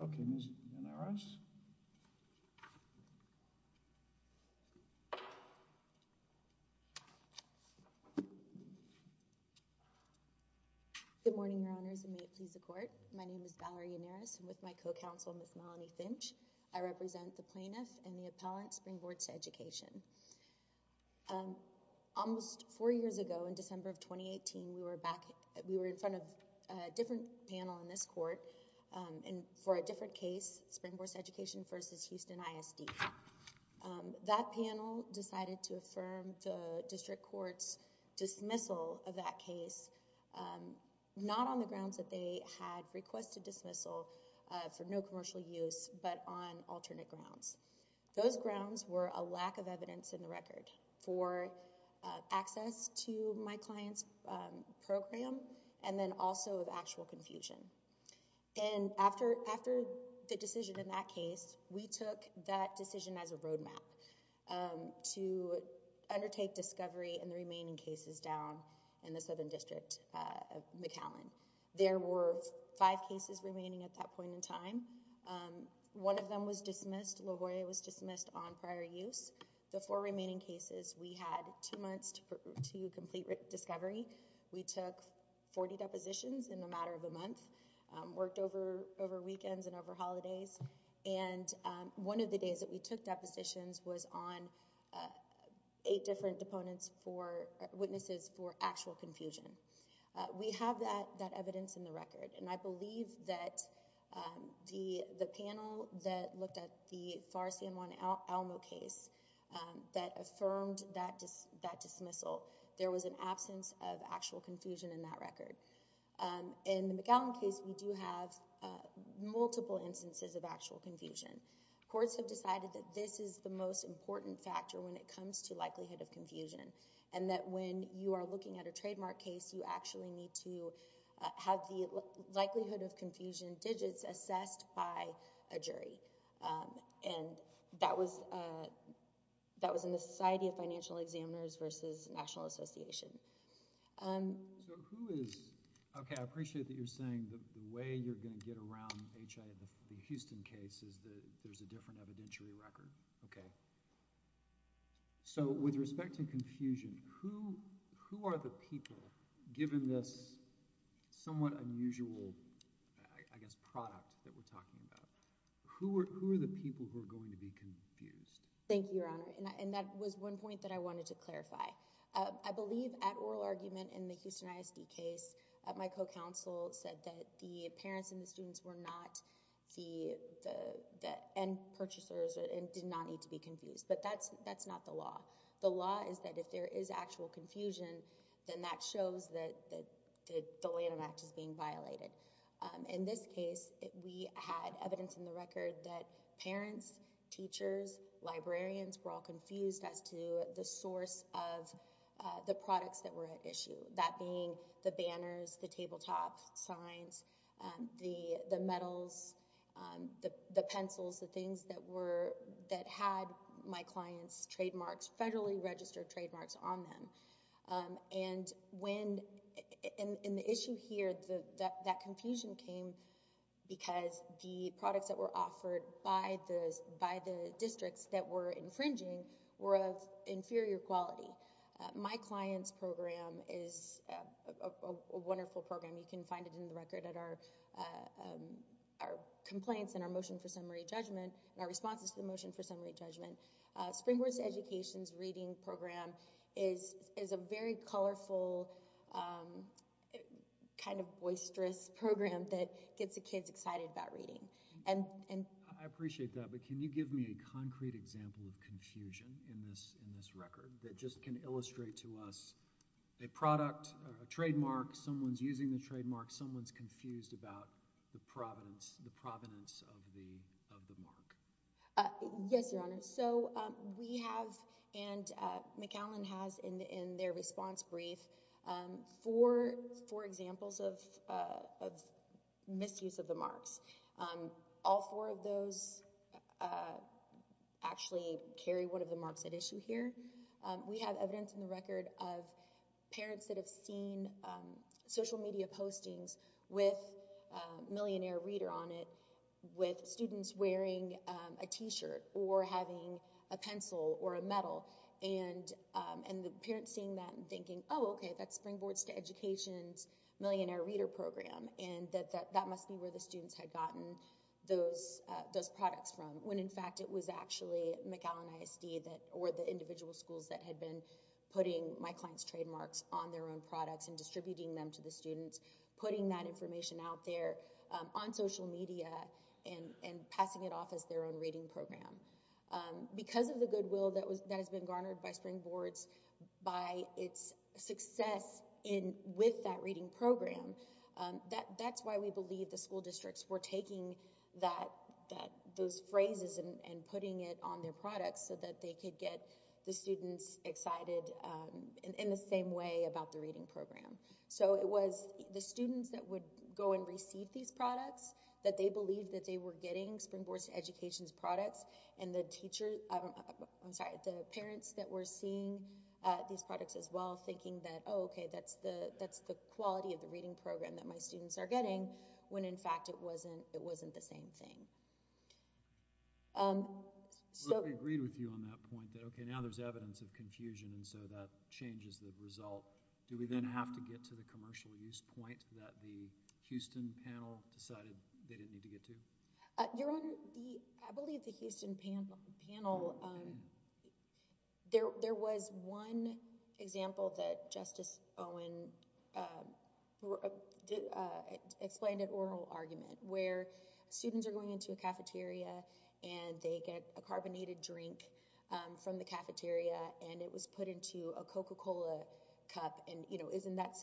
Okay, Ms. Yannaris? Good morning, Your Honors, and may it please the Court. My name is Valerie Yannaris, and with my co-counsel, Ms. Melanie Finch, I represent the plaintiff and the appellant, Springboards to Education. Almost four years ago, in December of 2018, we were back, we were in front of a different panel in this court, and for a different case, Springboards to Education v. Houston ISD. That panel decided to affirm the district court's dismissal of that case, not on the grounds that it had requested dismissal for no commercial use, but on alternate grounds. Those grounds were a lack of evidence in the record for access to my client's program, and then also of actual confusion. And after the decision in that case, we took that decision as a roadmap to undertake discovery in the remaining cases down in the Southern District of McAllen. There were five cases remaining at that point in time. One of them was dismissed, LaGuardia was dismissed on prior use. The four remaining cases, we had two months to complete discovery. We took 40 depositions in a matter of a month, worked over weekends and over holidays, and one of the days that we took depositions was on eight different witnesses for actual confusion. We have that evidence in the record, and I believe that the panel that looked at the Pharr-San Juan-Alamo case that affirmed that dismissal, there was an absence of actual confusion in that record. In the McAllen case, we do have multiple instances of actual confusion. Courts have decided that this is the most important factor when it comes to likelihood of confusion, and that when you are looking at a trademark case, you actually need to have the likelihood of confusion digits assessed by a jury, and that was in the Society of Financial Examiners versus National Association. Okay, I appreciate that you're saying the way you're going to get around the Houston case is that there's a different evidentiary record, okay. So, with respect to confusion, who are the people, given this somewhat unusual, I guess, product that we're talking about, who are the people who are going to be confused? Thank you, Your Honor, and that was one point that I wanted to clarify. I believe at oral argument in the Houston ISD case, my co-counsel said that the parents and the students were not the end purchasers and did not need to be confused, but that's not the law. The law is that if there is actual confusion, then that shows that the Lanham Act is being violated. In this case, we had evidence in the record that parents, teachers, librarians were all confused as to the source of the products that were at issue, that being the banners, the tabletop signs, the medals, the pencils, the things that had my client's trademarks, federally registered trademarks on them. And when, in the issue here, that confusion came because the products that were offered by the districts that were infringing were of inferior quality. My client's program is a wonderful program. You can find it in the record at our complaints and our motion for summary judgment and our responses to the motion for summary judgment. Springboard's education's reading program is a very colorful, kind of boisterous program that gets the kids excited about reading. I appreciate that, but can you give me a concrete example of confusion in this record that just can illustrate to us a product, a trademark, someone's using the trademark, someone's confused about the provenance of the mark? Yes, Your Honor. So we have, and McAllen has in their response brief, four examples of misuse of the marks. All four of those actually carry one of the marks at issue here. We have evidence in the record of parents that have seen social media postings with millionaire reader on it with students wearing a t-shirt or having a pencil or a medal. And the parents seeing that and thinking, oh, okay, that's Springboard's education's millionaire reader program, and that that must be where the students had gotten those products from, when in fact it was actually McAllen ISD or the individual schools that had been putting my client's trademarks on their own products and distributing them to the students, putting that information out there on social media and passing it off as their own reading program. Because of the goodwill that has been garnered by Springboard's, by its success with that districts were taking those phrases and putting it on their products so that they could get the students excited in the same way about the reading program. So it was the students that would go and receive these products that they believed that they were getting Springboard's education's products. And the teachers, I'm sorry, the parents that were seeing these products as well thinking that, oh, okay, that's the quality of the reading program that my students are getting when in fact it wasn't the same thing. We agreed with you on that point that, okay, now there's evidence of confusion, and so that changes the result. Do we then have to get to the commercial use point that the Houston panel decided they didn't need to get to? Your Honor, I believe the Houston panel, there was one example that Justice Owen explained in oral argument where students are going into a cafeteria and they get a carbonated drink from the cafeteria and it was put into a Coca-Cola cup and, you know, isn't that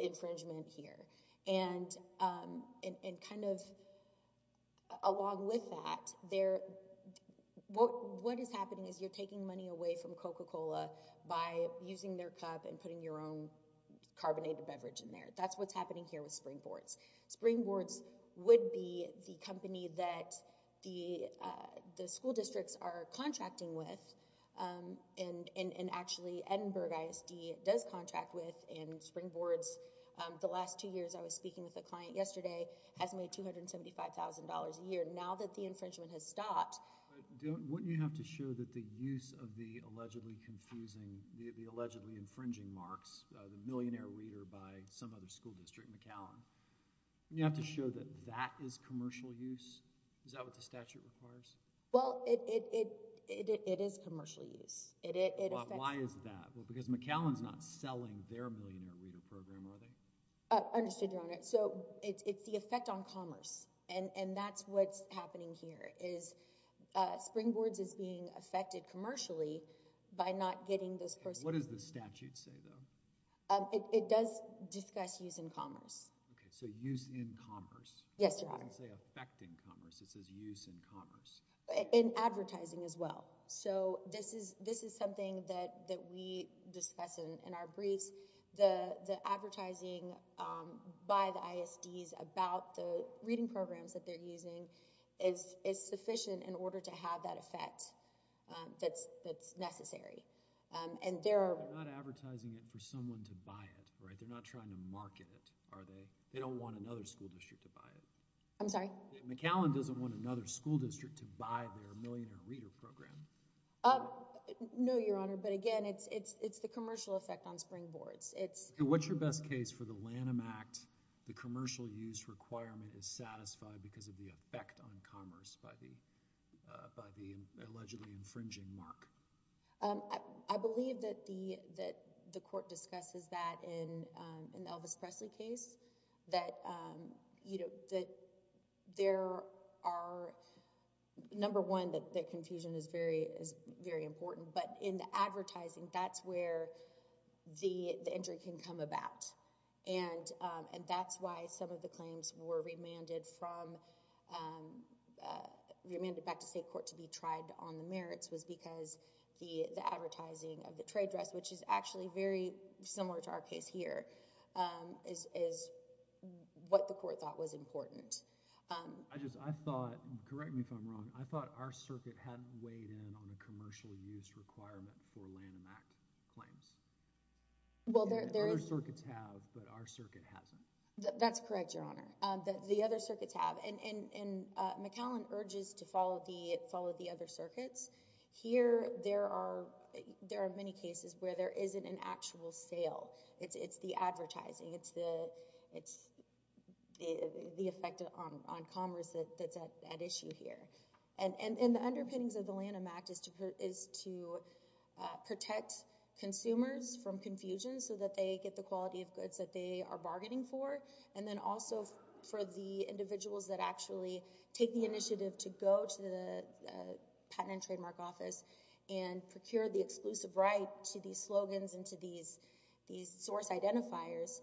infringement here? And kind of along with that, what is happening is you're taking money away from Coca-Cola by using their cup and putting your own carbonated beverage in there. That's what's happening here with Springboard's. Springboard's would be the company that the school districts are contracting with, and actually Edinburgh ISD does contract with, and Springboard's, the last two years I was speaking with a client yesterday, has made $275,000 a year. Now that the infringement has stopped... But wouldn't you have to show that the use of the allegedly confusing, the allegedly infringing marks, the millionaire reader by some other school district, McAllen, wouldn't you have to show that that is commercial use? Is that what the statute requires? Well, it is commercial use. It affects... Why is that? Because McAllen's not selling their millionaire reader program, are they? Understood, Your Honor. So it's the effect on commerce, and that's what's happening here is Springboard's is being affected commercially by not getting this person... What does the statute say, though? It does discuss use in commerce. Okay, so use in commerce. Yes, Your Honor. It doesn't say effect in commerce. It says use in commerce. In advertising as well. So this is something that we discuss in our briefs. The advertising by the ISDs about the reading programs that they're using is sufficient in order to have that effect that's necessary. And there are... They're not advertising it for someone to buy it, right? They're not trying to market it, are they? They don't want another school district to buy it. I'm sorry? McAllen doesn't want another school district to buy their millionaire reader program. No, Your Honor, but again, it's the commercial effect on Springboard's. What's your best case for the Lanham Act, the commercial use requirement is satisfied because of the effect on commerce by the allegedly infringing mark? I believe that the court discusses that in the Elvis Presley case, that there are... Number one, that confusion is very important, but in the advertising, that's where the injury can come about. And that's why some of the claims were remanded back to state court to be tried on the merits was because the advertising of the trade dress, which is actually very similar to our case here, is what the court thought was important. I just, I thought, correct me if I'm wrong, I thought our circuit had weighed in on a commercial use requirement for Lanham Act claims. Other circuits have, but our circuit hasn't. That's correct, Your Honor. The other circuits have. McAllen urges to follow the other circuits. Here, there are many cases where there isn't an actual sale. It's the advertising. It's the effect on commerce that's at issue here. And the underpinnings of the Lanham Act is to protect consumers from confusion so that they get the quality of goods that they are bargaining for. And then also for the individuals that actually take the initiative to go to the patent and trademark office and procure the exclusive right to these slogans and to these source identifiers.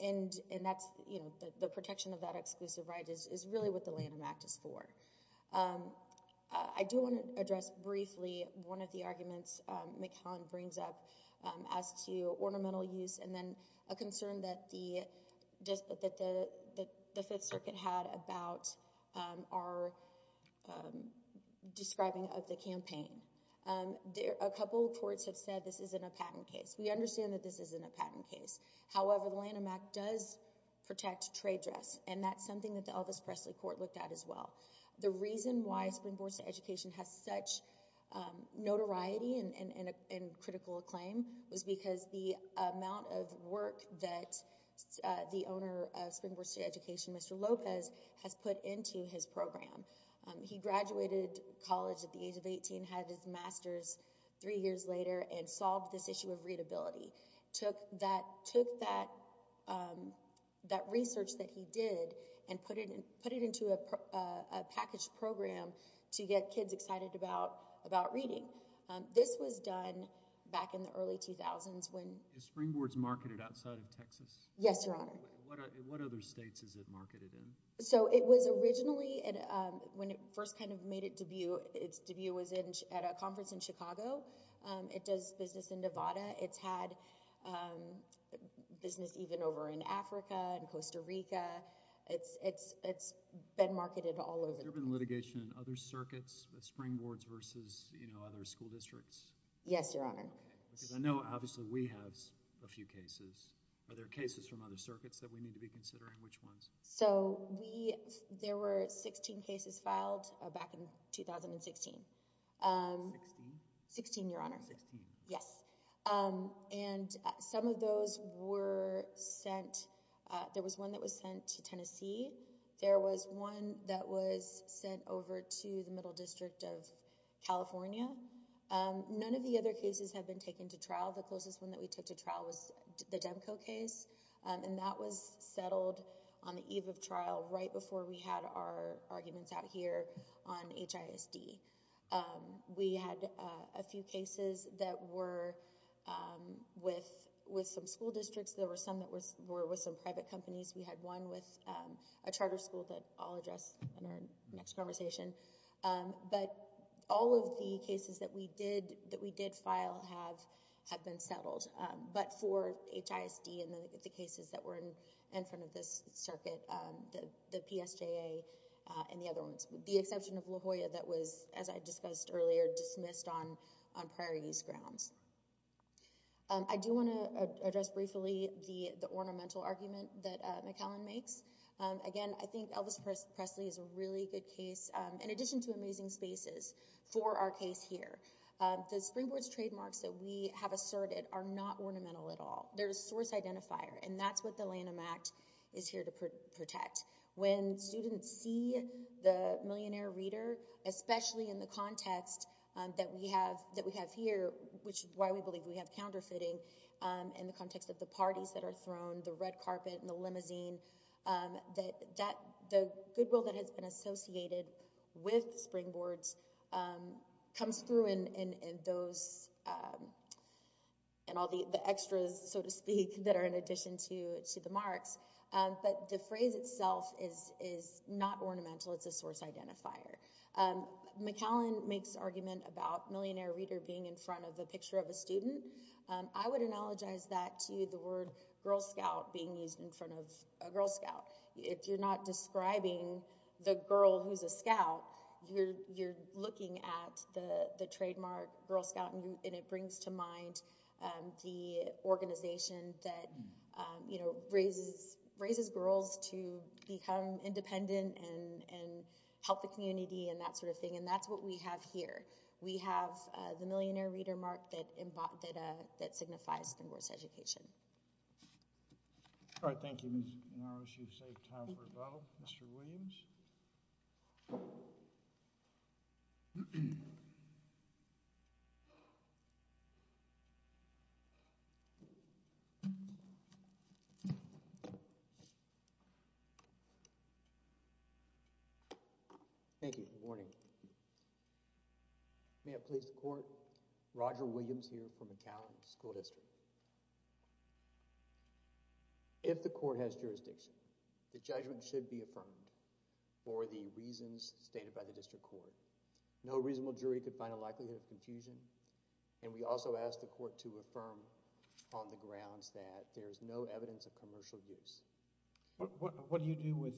And that's, you know, the protection of that exclusive right is really what the Lanham Act is for. I do want to address briefly one of the arguments McAllen brings up as to ornamental use and then a concern that the Fifth Circuit had about our describing of the campaign. A couple of courts have said this isn't a patent case. We understand that this isn't a patent case. However, the Lanham Act does protect trade dress, and that's something that the Elvis Presley Court looked at as well. The reason why Supreme Court's education has such notoriety and critical acclaim was because the amount of work that the owner of Springboard State Education, Mr. Lopez, has put into his program. He graduated college at the age of 18, had his master's three years later, and solved this issue of readability. Took that research that he did and put it into a packaged program to get kids excited about reading. This was done back in the early 2000s when— Is Springboard marketed outside of Texas? Yes, Your Honor. What other states is it marketed in? So it was originally, when it first kind of made its debut, its debut was at a conference in Chicago. It does business in Nevada. It's had business even over in Africa and Costa Rica. It's been marketed all over the place. Has there been litigation in other circuits, Springboards versus other school districts? Yes, Your Honor. Because I know, obviously, we have a few cases. Are there cases from other circuits that we need to be considering? Which ones? So there were 16 cases filed back in 2016. 16? 16, Your Honor. 16. Yes. And some of those were sent—there was one that was sent to Tennessee. There was one that was sent over to the Middle District of California. None of the other cases have been taken to trial. The closest one that we took to trial was the Demco case. And that was settled on the eve of trial, right before we had our arguments out here on HISD. We had a few cases that were with some school districts. There were some that were with some private companies. We had one with a charter school that I'll address in our next conversation. But all of the cases that we did file have been settled. But for HISD and the cases that were in front of this circuit, the PSJA and the other ones. The exception of La Jolla that was, as I discussed earlier, dismissed on prior use grounds. I do want to address briefly the ornamental argument that McAllen makes. Again, I think Elvis Presley is a really good case, in addition to amazing spaces, for our case here. The Springboard's trademarks that we have asserted are not ornamental at all. They're a source identifier. And that's what the Lanham Act is here to protect. When students see the millionaire reader, especially in the context that we have here, which is why we believe we have counterfeiting, in the context of the parties that are thrown, the red carpet and the limousine, the goodwill that has been associated with Springboards comes through in all the extras, so to speak, that are in addition to the marks. But the phrase itself is not ornamental, it's a source identifier. McAllen makes argument about millionaire reader being in front of a picture of a student. I would analogize that to the word Girl Scout being used in front of a Girl Scout. If you're not describing the girl who's a Scout, you're looking at the trademark Girl Scout and it brings to mind the organization that raises girls to become independent and help the community and that sort of thing. And that's what we have here. We have the millionaire reader mark that signifies Springboard's education. All right, thank you, Ms. Norris. You've saved time for rebuttal. Mr. Williams? Thank you for the warning. May it please the court, Roger Williams here from McAllen School District. If the court has jurisdiction, the judgment should be affirmed for the reasons stated by the district court. No reasonable jury could find a likelihood of confusion and we also ask the court to affirm on the grounds that there is no evidence of commercial use. What do you do with,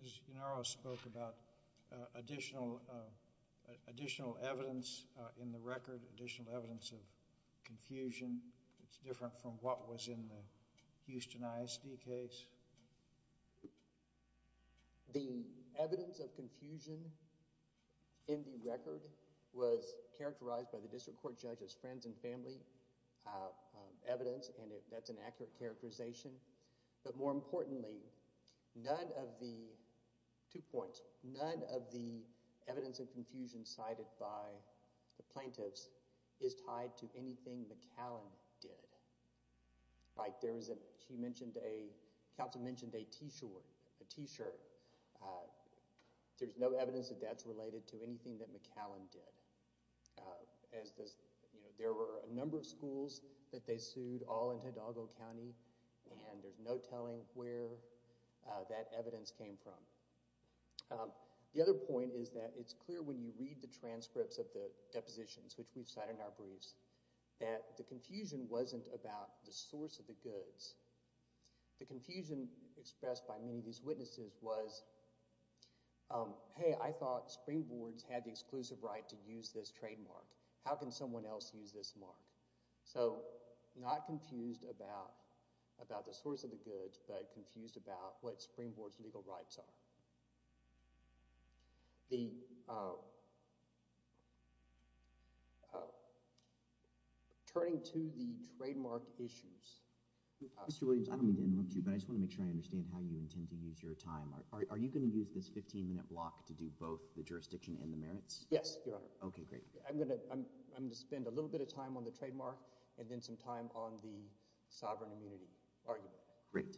Ms. Gennaro spoke about additional evidence in the record, additional evidence of confusion that's different from what was in the Houston ISD case? The evidence of confusion in the record was characterized by the district court judge's friends and family evidence and that's an accurate characterization. But more importantly, none of the, two points, none of the evidence of confusion cited by the plaintiffs is tied to anything McAllen did. Like there was a, she mentioned a, counsel mentioned a t-shirt, a t-shirt. There's no evidence that that's related to anything that McAllen did. As this, there were a number of schools that they sued, all in Hidalgo County and there's no telling where that evidence came from. The other point is that it's clear when you read the transcripts of the depositions which we've cited in our briefs, that the confusion wasn't about the source of the goods. The confusion expressed by many of these witnesses was, hey, I thought Springboard's had the exclusive right to use this trademark. How can someone else use this mark? So, not confused about, about the source of the goods, but confused about what Springboard's legal rights are. The, turning to the trademark issues. Mr. Williams, I don't mean to interrupt you, but I just want to make sure I understand how you intend to use your time. Are you going to use this 15 minute block to do both the jurisdiction and the merits? Yes, Your Honor. Okay, great. I'm going to, I'm going to spend a little bit of time on the trademark and then some time on the sovereign immunity argument. Great.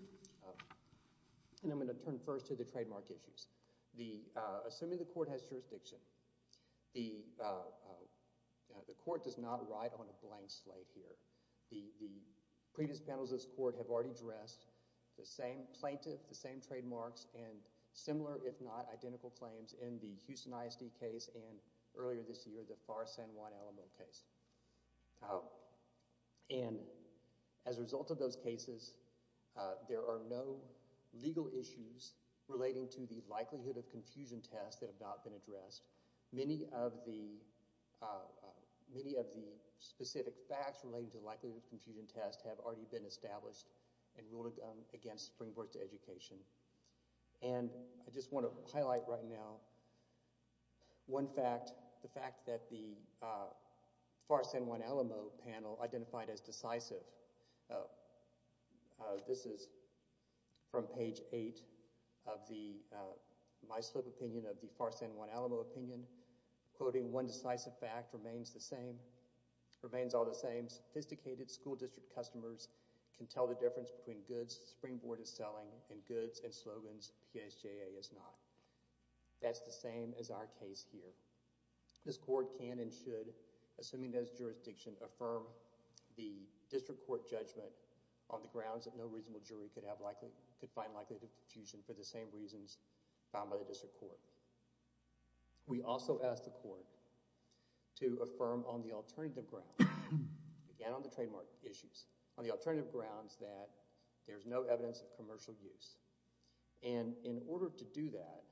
And I'm going to turn first to the trademark issues. The, assuming the court has jurisdiction, the, the court does not ride on a blank slate here. The, the previous panels of this court have already addressed the same plaintiff, the same trademarks, and similar if not identical claims in the Houston ISD case and earlier this year, the Pharr-San Juan-Alamo case. And as a result of those cases, there are no legal issues relating to the likelihood of confusion test that have not been addressed. Many of the, many of the specific facts relating to the likelihood of confusion test have already been established and ruled against springboard to education. And I just want to highlight right now one fact, the fact that the Pharr-San Juan-Alamo panel identified as decisive. This is from page eight of the, my slip opinion of the Pharr-San Juan-Alamo opinion, quoting one decisive fact remains the same, remains all the same. Sophisticated school district customers can tell the difference between goods springboard is selling and goods and slogans PSJA is not. That's the same as our case here. This court can and should, assuming there's jurisdiction, affirm the district court judgment on the grounds that no reasonable jury could have likely, could find likelihood of confusion for the same reasons found by the district court. We also ask the court to affirm on the alternative ground, again on the trademark issues, on the alternative grounds that there's no evidence of commercial use. And in order to do that,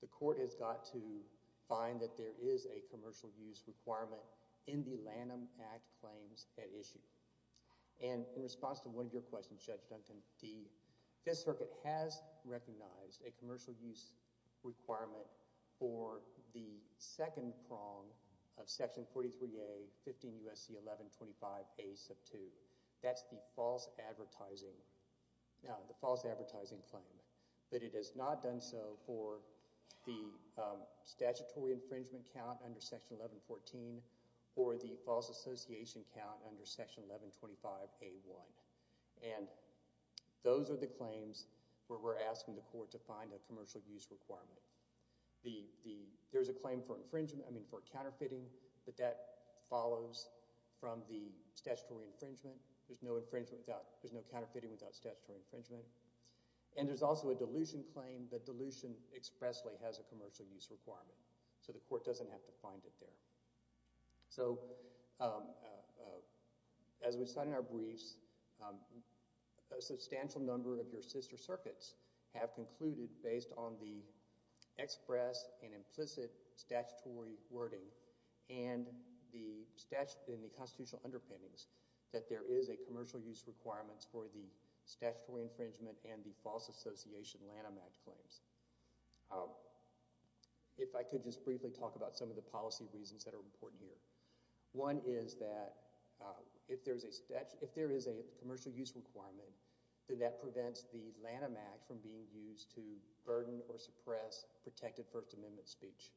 the court has got to find that there is a commercial use requirement in the Lanham Act claims at issue. And in response to one of your questions, Judge Dunton, the Fifth Circuit has recognized a commercial use requirement for the second prong of section 43A, 15 U.S.C. 1125A sub 2. That's the false advertising, the false advertising claim. But it has not done so for the statutory infringement count under section 1114 or the false association count under section 1125A1. And those are the claims where we're asking the court to find a commercial use requirement. There's a claim for infringement, I mean for counterfeiting, but that follows from the statutory infringement. There's no infringement without, there's no counterfeiting without statutory infringement. And there's also a dilution claim. The dilution expressly has a commercial use requirement. So the court doesn't have to find it there. So, as we said in our briefs, a substantial number of your sister circuits have concluded based on the express and implicit statutory wording and the constitutional underpinnings that there is a commercial use requirement for the statutory infringement and the false association Lanham Act claims. If I could just briefly talk about some of the policy reasons that are important here. One is that if there is a commercial use requirement, then that prevents the Lanham Act from being used to burden or suppress protected First Amendment speech.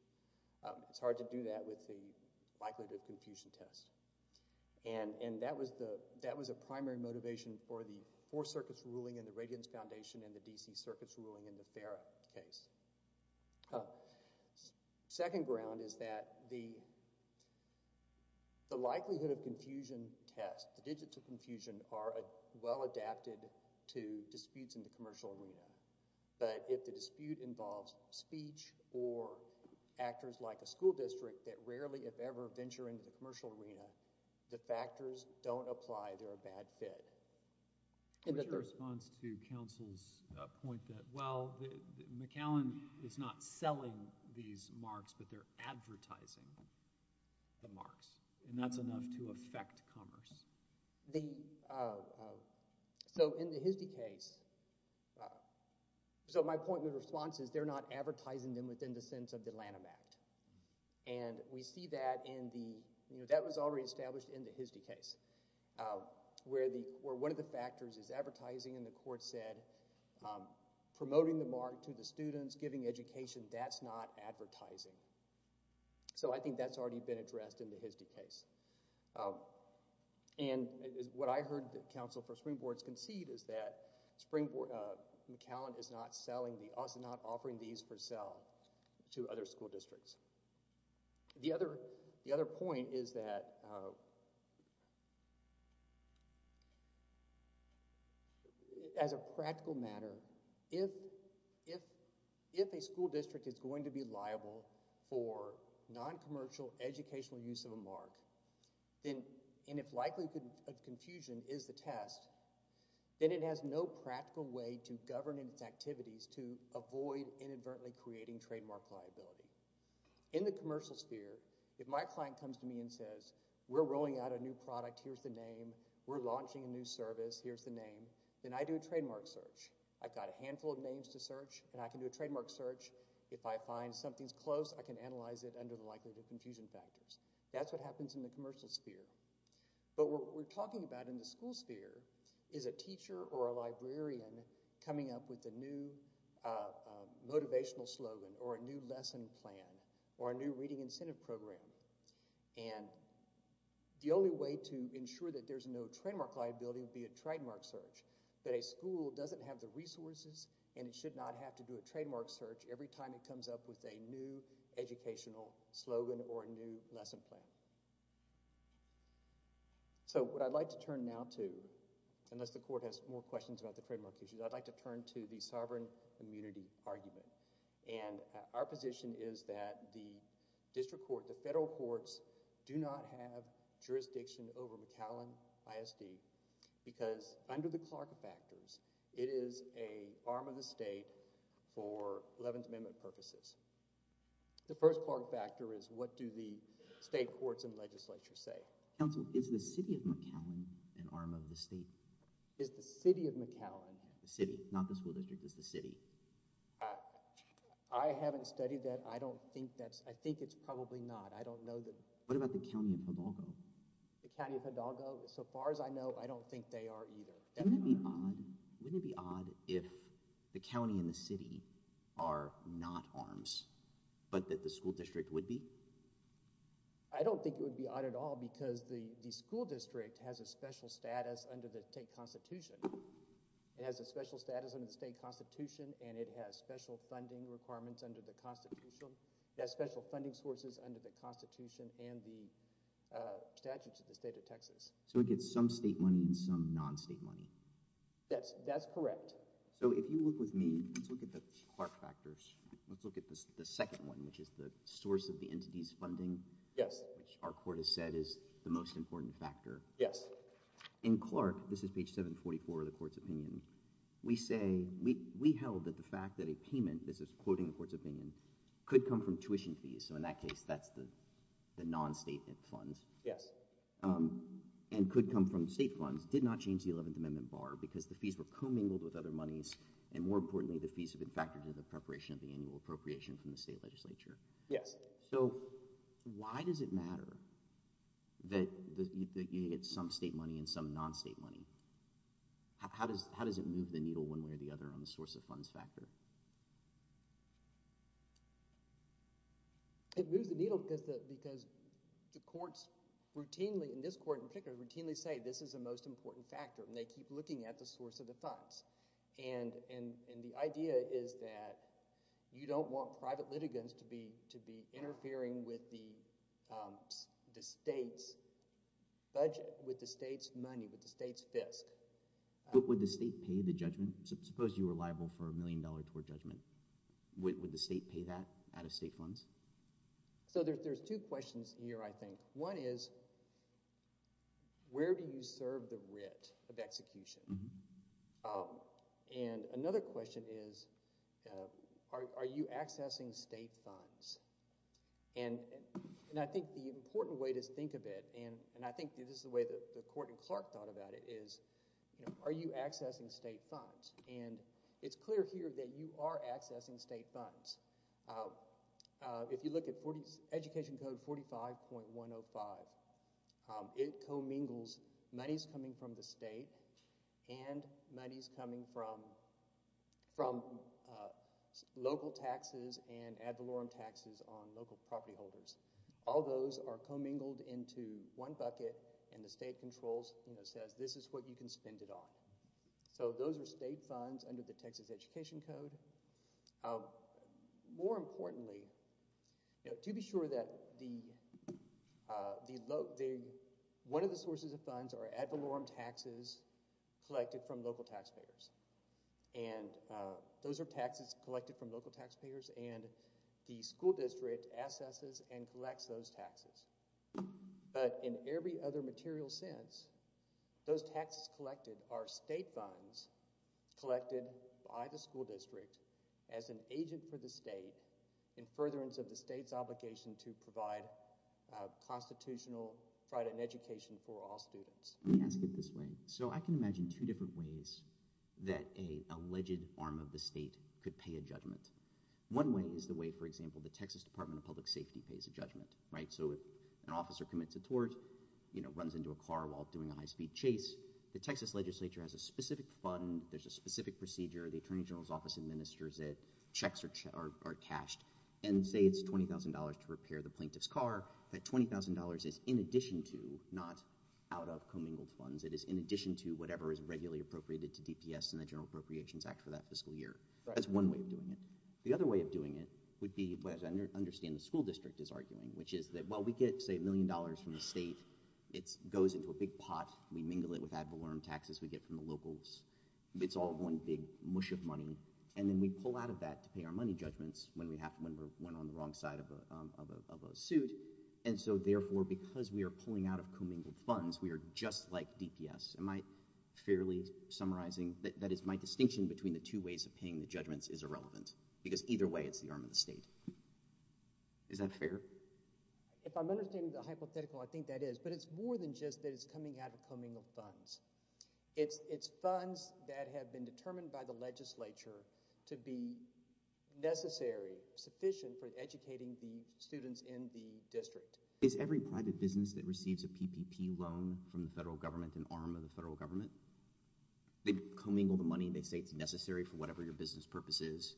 It's hard to do that with the likelihood of confusion test. And that was a primary motivation for the four circuits ruling in the Radiance Foundation and the D.C. circuits ruling in the FARA case. Second ground is that the likelihood of confusion test, the digits of confusion are well adapted to disputes in the commercial arena. But if the dispute involves speech or actors like a school district that rarely, if ever, venture into the commercial arena, the factors don't apply. They're a bad fit. What's your response to counsel's point that, but they're advertising the marks, and that's enough to affect commerce? So in the Hisdy case, so my point and response is they're not advertising them within the sense of the Lanham Act. And we see that in the, that was already established in the Hisdy case, where one of the factors is advertising, and the court said, promoting the mark to the students, giving education, that's not advertising. So I think that's already been addressed in the Hisdy case. And what I heard counsel for Springboard concede is that McAllen is not offering these for sale to other school districts. The other point is that as a practical matter, if a school district is going to be liable, for non-commercial educational use of a mark, and if likelihood of confusion is the test, then it has no practical way to govern its activities to avoid inadvertently creating trademark liability. In the commercial sphere, if my client comes to me and says, we're rolling out a new product, here's the name, we're launching a new service, here's the name, then I do a trademark search. I've got a handful of names to search, and I can do a trademark search. If I find something's close, I can analyze it under the likelihood of confusion factors. That's what happens in the commercial sphere. But what we're talking about in the school sphere is a teacher or a librarian coming up with a new motivational slogan or a new lesson plan or a new reading incentive program. And the only way to ensure that there's no trademark liability would be a trademark search. But a school doesn't have the resources, and it should not have to do a trademark search every time it comes up with a new educational slogan or a new lesson plan. So what I'd like to turn now to, unless the court has more questions about the trademark issues, I'd like to turn to the sovereign immunity argument. And our position is that the district court, the federal courts, do not have jurisdiction over McAllen ISD because under the Clark factors, it is an arm of the state for Eleventh Amendment purposes. The first Clark factor is what do the state courts and legislature say? Counsel, is the city of McAllen an arm of the state? Is the city of McAllen... The city, not the school district. It's the city. I haven't studied that. I don't think that's... I think it's probably not. I don't know that... What about the county of Hidalgo? The county of Hidalgo, so far as I know, I don't think they are either. Wouldn't it be odd if the county and the city are not arms, but that the school district would be? I don't think it would be odd at all because the school district has a special status under the state constitution. It has a special status under the state constitution, and it has special funding requirements under the constitution. It has special funding sources under the constitution and the statutes of the state of Texas. So it gets some state money and some non-state money. Yes, that's correct. So if you look with me, let's look at the Clark factors. Let's look at the second one, which is the source of the entity's funding, which our court has said is the most important factor. Yes. In Clark, this is page 744 of the court's opinion, we say we held that the fact that a payment, this is quoting the court's opinion, could come from tuition fees, so in that case that's the non-state funds. Yes. And could come from state funds, did not change the 11th Amendment bar because the fees were commingled with other monies, and more importantly the fees have been factored into the preparation of the annual appropriation from the state legislature. Yes. So why does it matter that you get some state money and some non-state money? How does it move the needle one way or the other on the source of funds factor? It moves the needle because the courts routinely, in this court in particular, routinely say this is the most important factor and they keep looking at the source of the funds. And the idea is that you don't want private litigants to be interfering with the state's budget, with the state's money, with the state's FISC. But would the state pay the judgment? Suppose you were liable for a million dollars a year, would the state pay that out of state funds? So there's two questions here I think. One is where do you serve the writ of execution? And another question is are you accessing state funds? And I think the important way to think of it, and I think this is the way that the court in Clark thought about it, is are you accessing state funds? And it's clear here that you are accessing state funds. If you look at Education Code 45.105, it commingles monies coming from the state and monies coming from local taxes and ad valorem taxes on local property holders. All those are commingled into one bucket and the state controls and says this is what you can spend it on. So those are state funds under the Texas Education Code. More importantly, to be sure that the, one of the sources of funds are ad valorem taxes collected from local taxpayers. And those are taxes collected from local taxpayers and the school district assesses and collects those taxes. But in every other material sense, those taxes collected are state funds collected by the school district as an agent for the state in furtherance of the state's obligation to provide constitutional education for all students. Let me ask it this way. So I can imagine two different ways that an alleged arm of the state could pay a judgment. One way is the way, for example, So if an officer commits a tort, runs into a car while doing a high-speed chase, the Texas legislature has a specific fund, there's a specific procedure, the attorney general's office administers it, checks are cashed, and say it's $20,000 to repair the plaintiff's car, that $20,000 is in addition to, not out of commingled funds, it is in addition to whatever is regularly appropriated to DPS in the General Appropriations Act for that fiscal year. That's one way of doing it. The other way of doing it would be, as I understand the school district is arguing, which is that while we get, say, $1 million from the state, it goes into a big pot, we mingle it with ad valorem taxes we get from the locals, it's all one big mush of money, and then we pull out of that to pay our money judgments when we're on the wrong side of a suit, and so therefore because we are pulling out of commingled funds, we are just like DPS. Am I fairly summarizing? That is, my distinction between the two ways of paying the judgments is irrelevant, because either way it's the arm of the state. Is that fair? If I'm understanding the hypothetical, I think that is, but it's more than just that it's coming out of commingled funds. It's funds that have been determined by the legislature to be necessary, sufficient, for educating the students in the district. Is every private business that receives a PPP loan from the federal government an arm of the federal government? They commingle the money, they say it's necessary for whatever your business purpose is.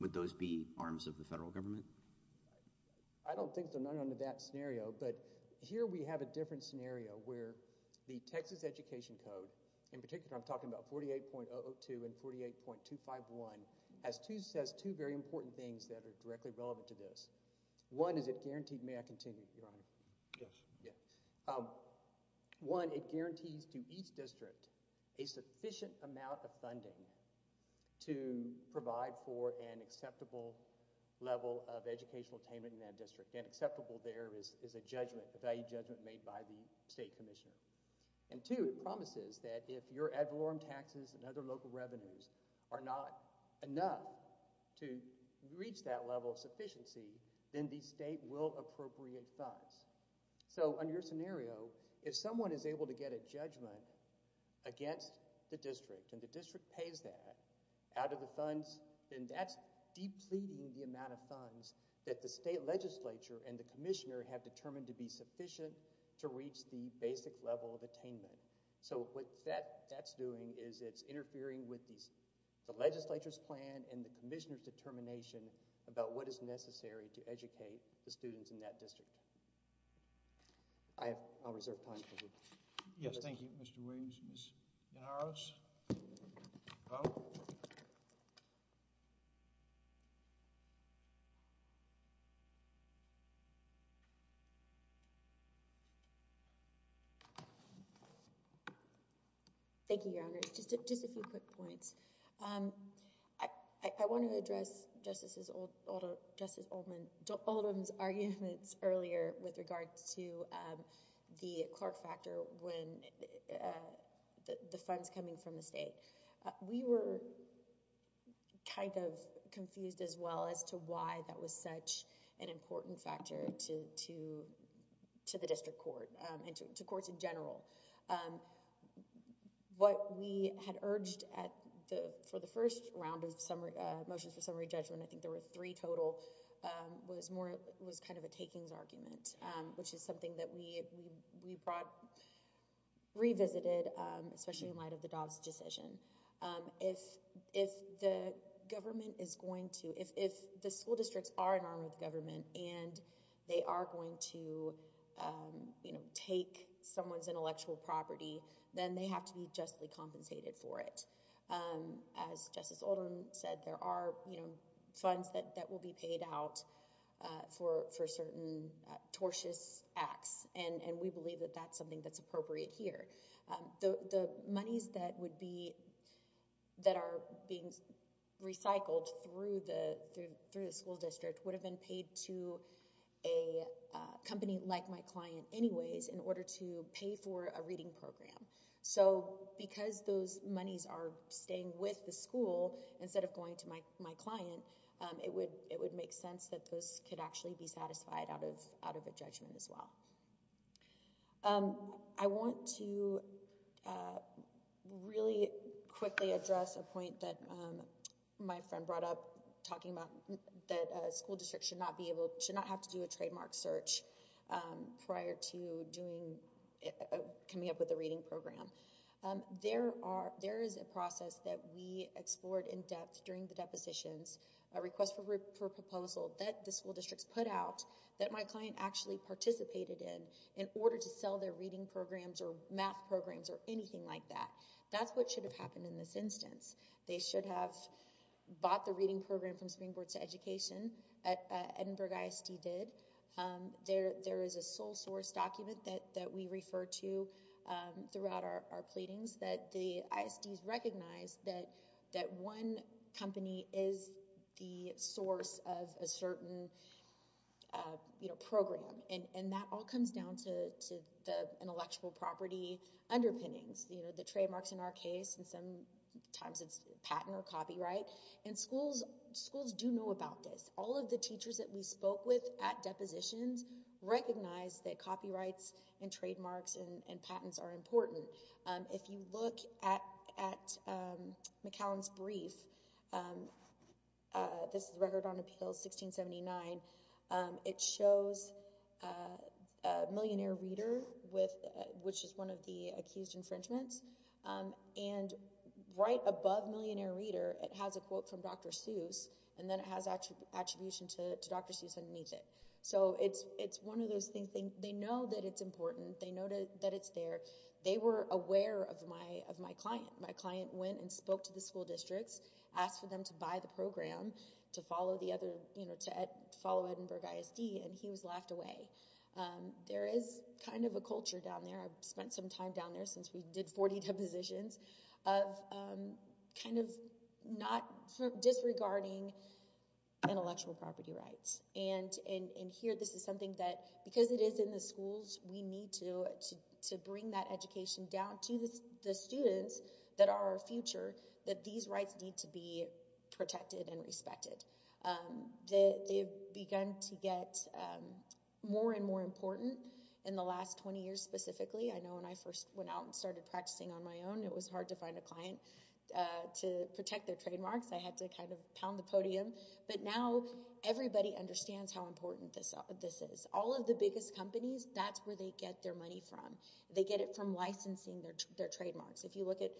Would those be arms of the federal government? I don't think they're known under that scenario, but here we have a different scenario where the Texas Education Code, in particular I'm talking about 48.002 and 48.251, has two very important things that are directly relevant to this. One, is it guaranteed, may I continue, Your Honor? Yes. One, it guarantees to each district a sufficient amount of funding to provide for an acceptable level of educational attainment in that district. And acceptable there is a value judgment made by the state commissioner. And two, it promises that if your ad valorem taxes and other local revenues are not enough to reach that level of sufficiency, then the state will appropriate funds. So under your scenario, if someone is able to get a judgment against the district, and the district pays that out of the funds, then that's depleting the amount of funds that the state legislature and the commissioner have determined to be sufficient to reach the basic level of attainment. So what that's doing is it's interfering with the legislature's plan and the commissioner's determination about what is necessary to educate the students in that district. I'll reserve time for you. Yes, thank you, Mr. Williams. Ms. DeNaros? Thank you, Your Honor. Just a few quick points. I want to address Justice Oldham's arguments earlier with regard to the Clark factor when the funds coming from the state. We were kind of confused as well as to why that was such an important factor to the district court and to courts in general. What we had urged for the first round of motions for summary judgment, I think there were three total, was kind of a takings argument, which is something that we revisited, especially in light of the Dobbs decision. If the school districts are an arm of the government and they are going to take someone's intellectual property, then they have to be justly compensated for it. As Justice Oldham said, there are funds that will be paid out for certain tortious acts, and we believe that that's something that's appropriate here. The monies that are being recycled through the school district would have been paid to a company like my client anyways in order to pay for a reading program. So because those monies are staying with the school instead of going to my client, it would make sense that those could actually be satisfied out of a judgment as well. I want to really quickly address a point that my friend brought up talking about that a school district should not have to do a trademark search prior to coming up with a reading program. There is a process that we explored in depth during the depositions, a request for proposal that the school districts put out that my client actually participated in in order to sell their reading programs or math programs or anything like that. That's what should have happened in this instance. They should have bought the reading program from Springboard to Education. Edinburgh ISD did. There is a sole source document that we refer to throughout our pleadings that the ISDs recognize that one company is the source of a certain program. And that all comes down to the intellectual property underpinnings, the trademarks in our case, and sometimes it's patent or copyright. And schools do know about this. All of the teachers that we spoke with at depositions recognize that copyrights and trademarks and patents are important. If you look at McCallum's brief, this is Record on Appeals 1679, it shows a millionaire reader, which is one of the accused infringements, and right above millionaire reader it has a quote from Dr. Seuss and then it has attribution to Dr. Seuss underneath it. So it's one of those things. They know that it's important. They know that it's there. They were aware of my client. My client went and spoke to the school districts, asked for them to buy the program to follow Edinburgh ISD, and he was laughed away. There is kind of a culture down there. I've spent some time down there since we did 40 depositions of kind of disregarding intellectual property rights. And here this is something that because it is in the schools, we need to bring that education down to the students that are our future that these rights need to be protected and respected. They've begun to get more and more important in the last 20 years specifically. I know when I first went out and started practicing on my own, it was hard to find a client to protect their trademarks. I had to kind of pound the podium. But now everybody understands how important this is. All of the biggest companies, that's where they get their money from. They get it from licensing their trademarks. If you look at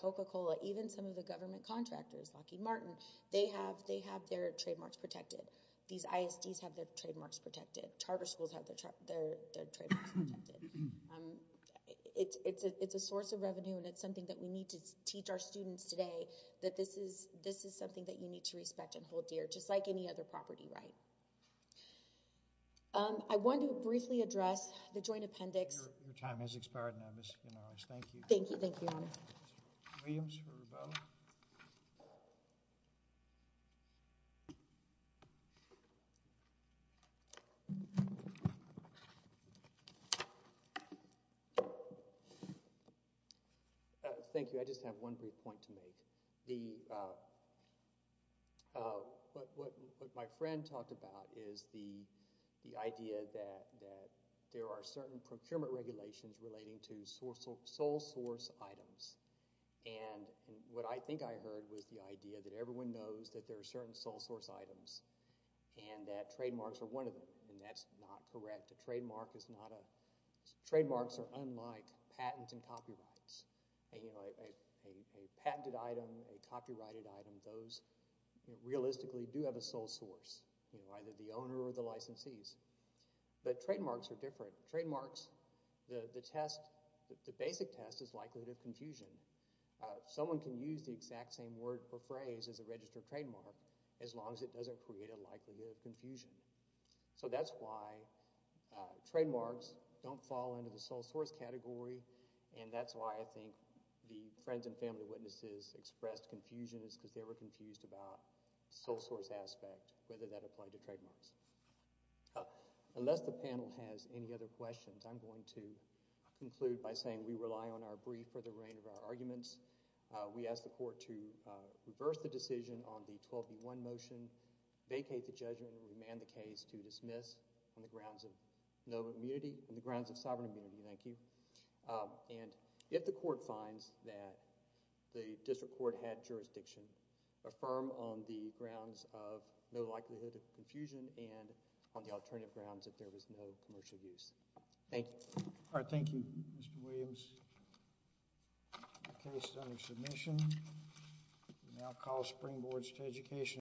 Coca-Cola, even some of the government contractors, Lockheed Martin, they have their trademarks protected. These ISDs have their trademarks protected. Charter schools have their trademarks protected. It's a source of revenue, and it's something that we need to teach our students today that this is something that you need to respect and hold dear, just like any other property right. I want to briefly address the joint appendix. Your time has expired now, Ms. Ganaris. Thank you. Thank you. Thank you, Your Honor. Williams for Rubeau. Thank you. I just have one brief point to make. What my friend talked about is the idea that there are certain procurement regulations relating to sole source items. What I think I heard was the idea that everyone knows that there are certain sole source items and that trademarks are one of them, and that's not correct. Trademarks are unlike patents and copyrights. A patented item, a copyrighted item, those realistically do have a sole source, either the owner or the licensees. But trademarks are different. Trademarks, the test, the basic test is likelihood of confusion. Someone can use the exact same word or phrase as a registered trademark as long as it doesn't create a likelihood of confusion. So that's why trademarks don't fall into the sole source category, and that's why I think the friends and family witnesses expressed confusion is because they were confused about the sole source aspect, whether that applied to trademarks. Unless the panel has any other questions, I'm going to conclude by saying we rely on our brief for the reign of our arguments. We ask the court to reverse the decision on the 12B1 motion, vacate the judgment, and remand the case to dismiss on the grounds of no immunity, on the grounds of sovereign immunity, thank you. And if the court finds that the district court had jurisdiction, affirm on the grounds of no likelihood of confusion and on the alternative grounds that there was no commercial use. Thank you. All right, thank you, Mr. Williams. The case is under submission. We now call springboards to education.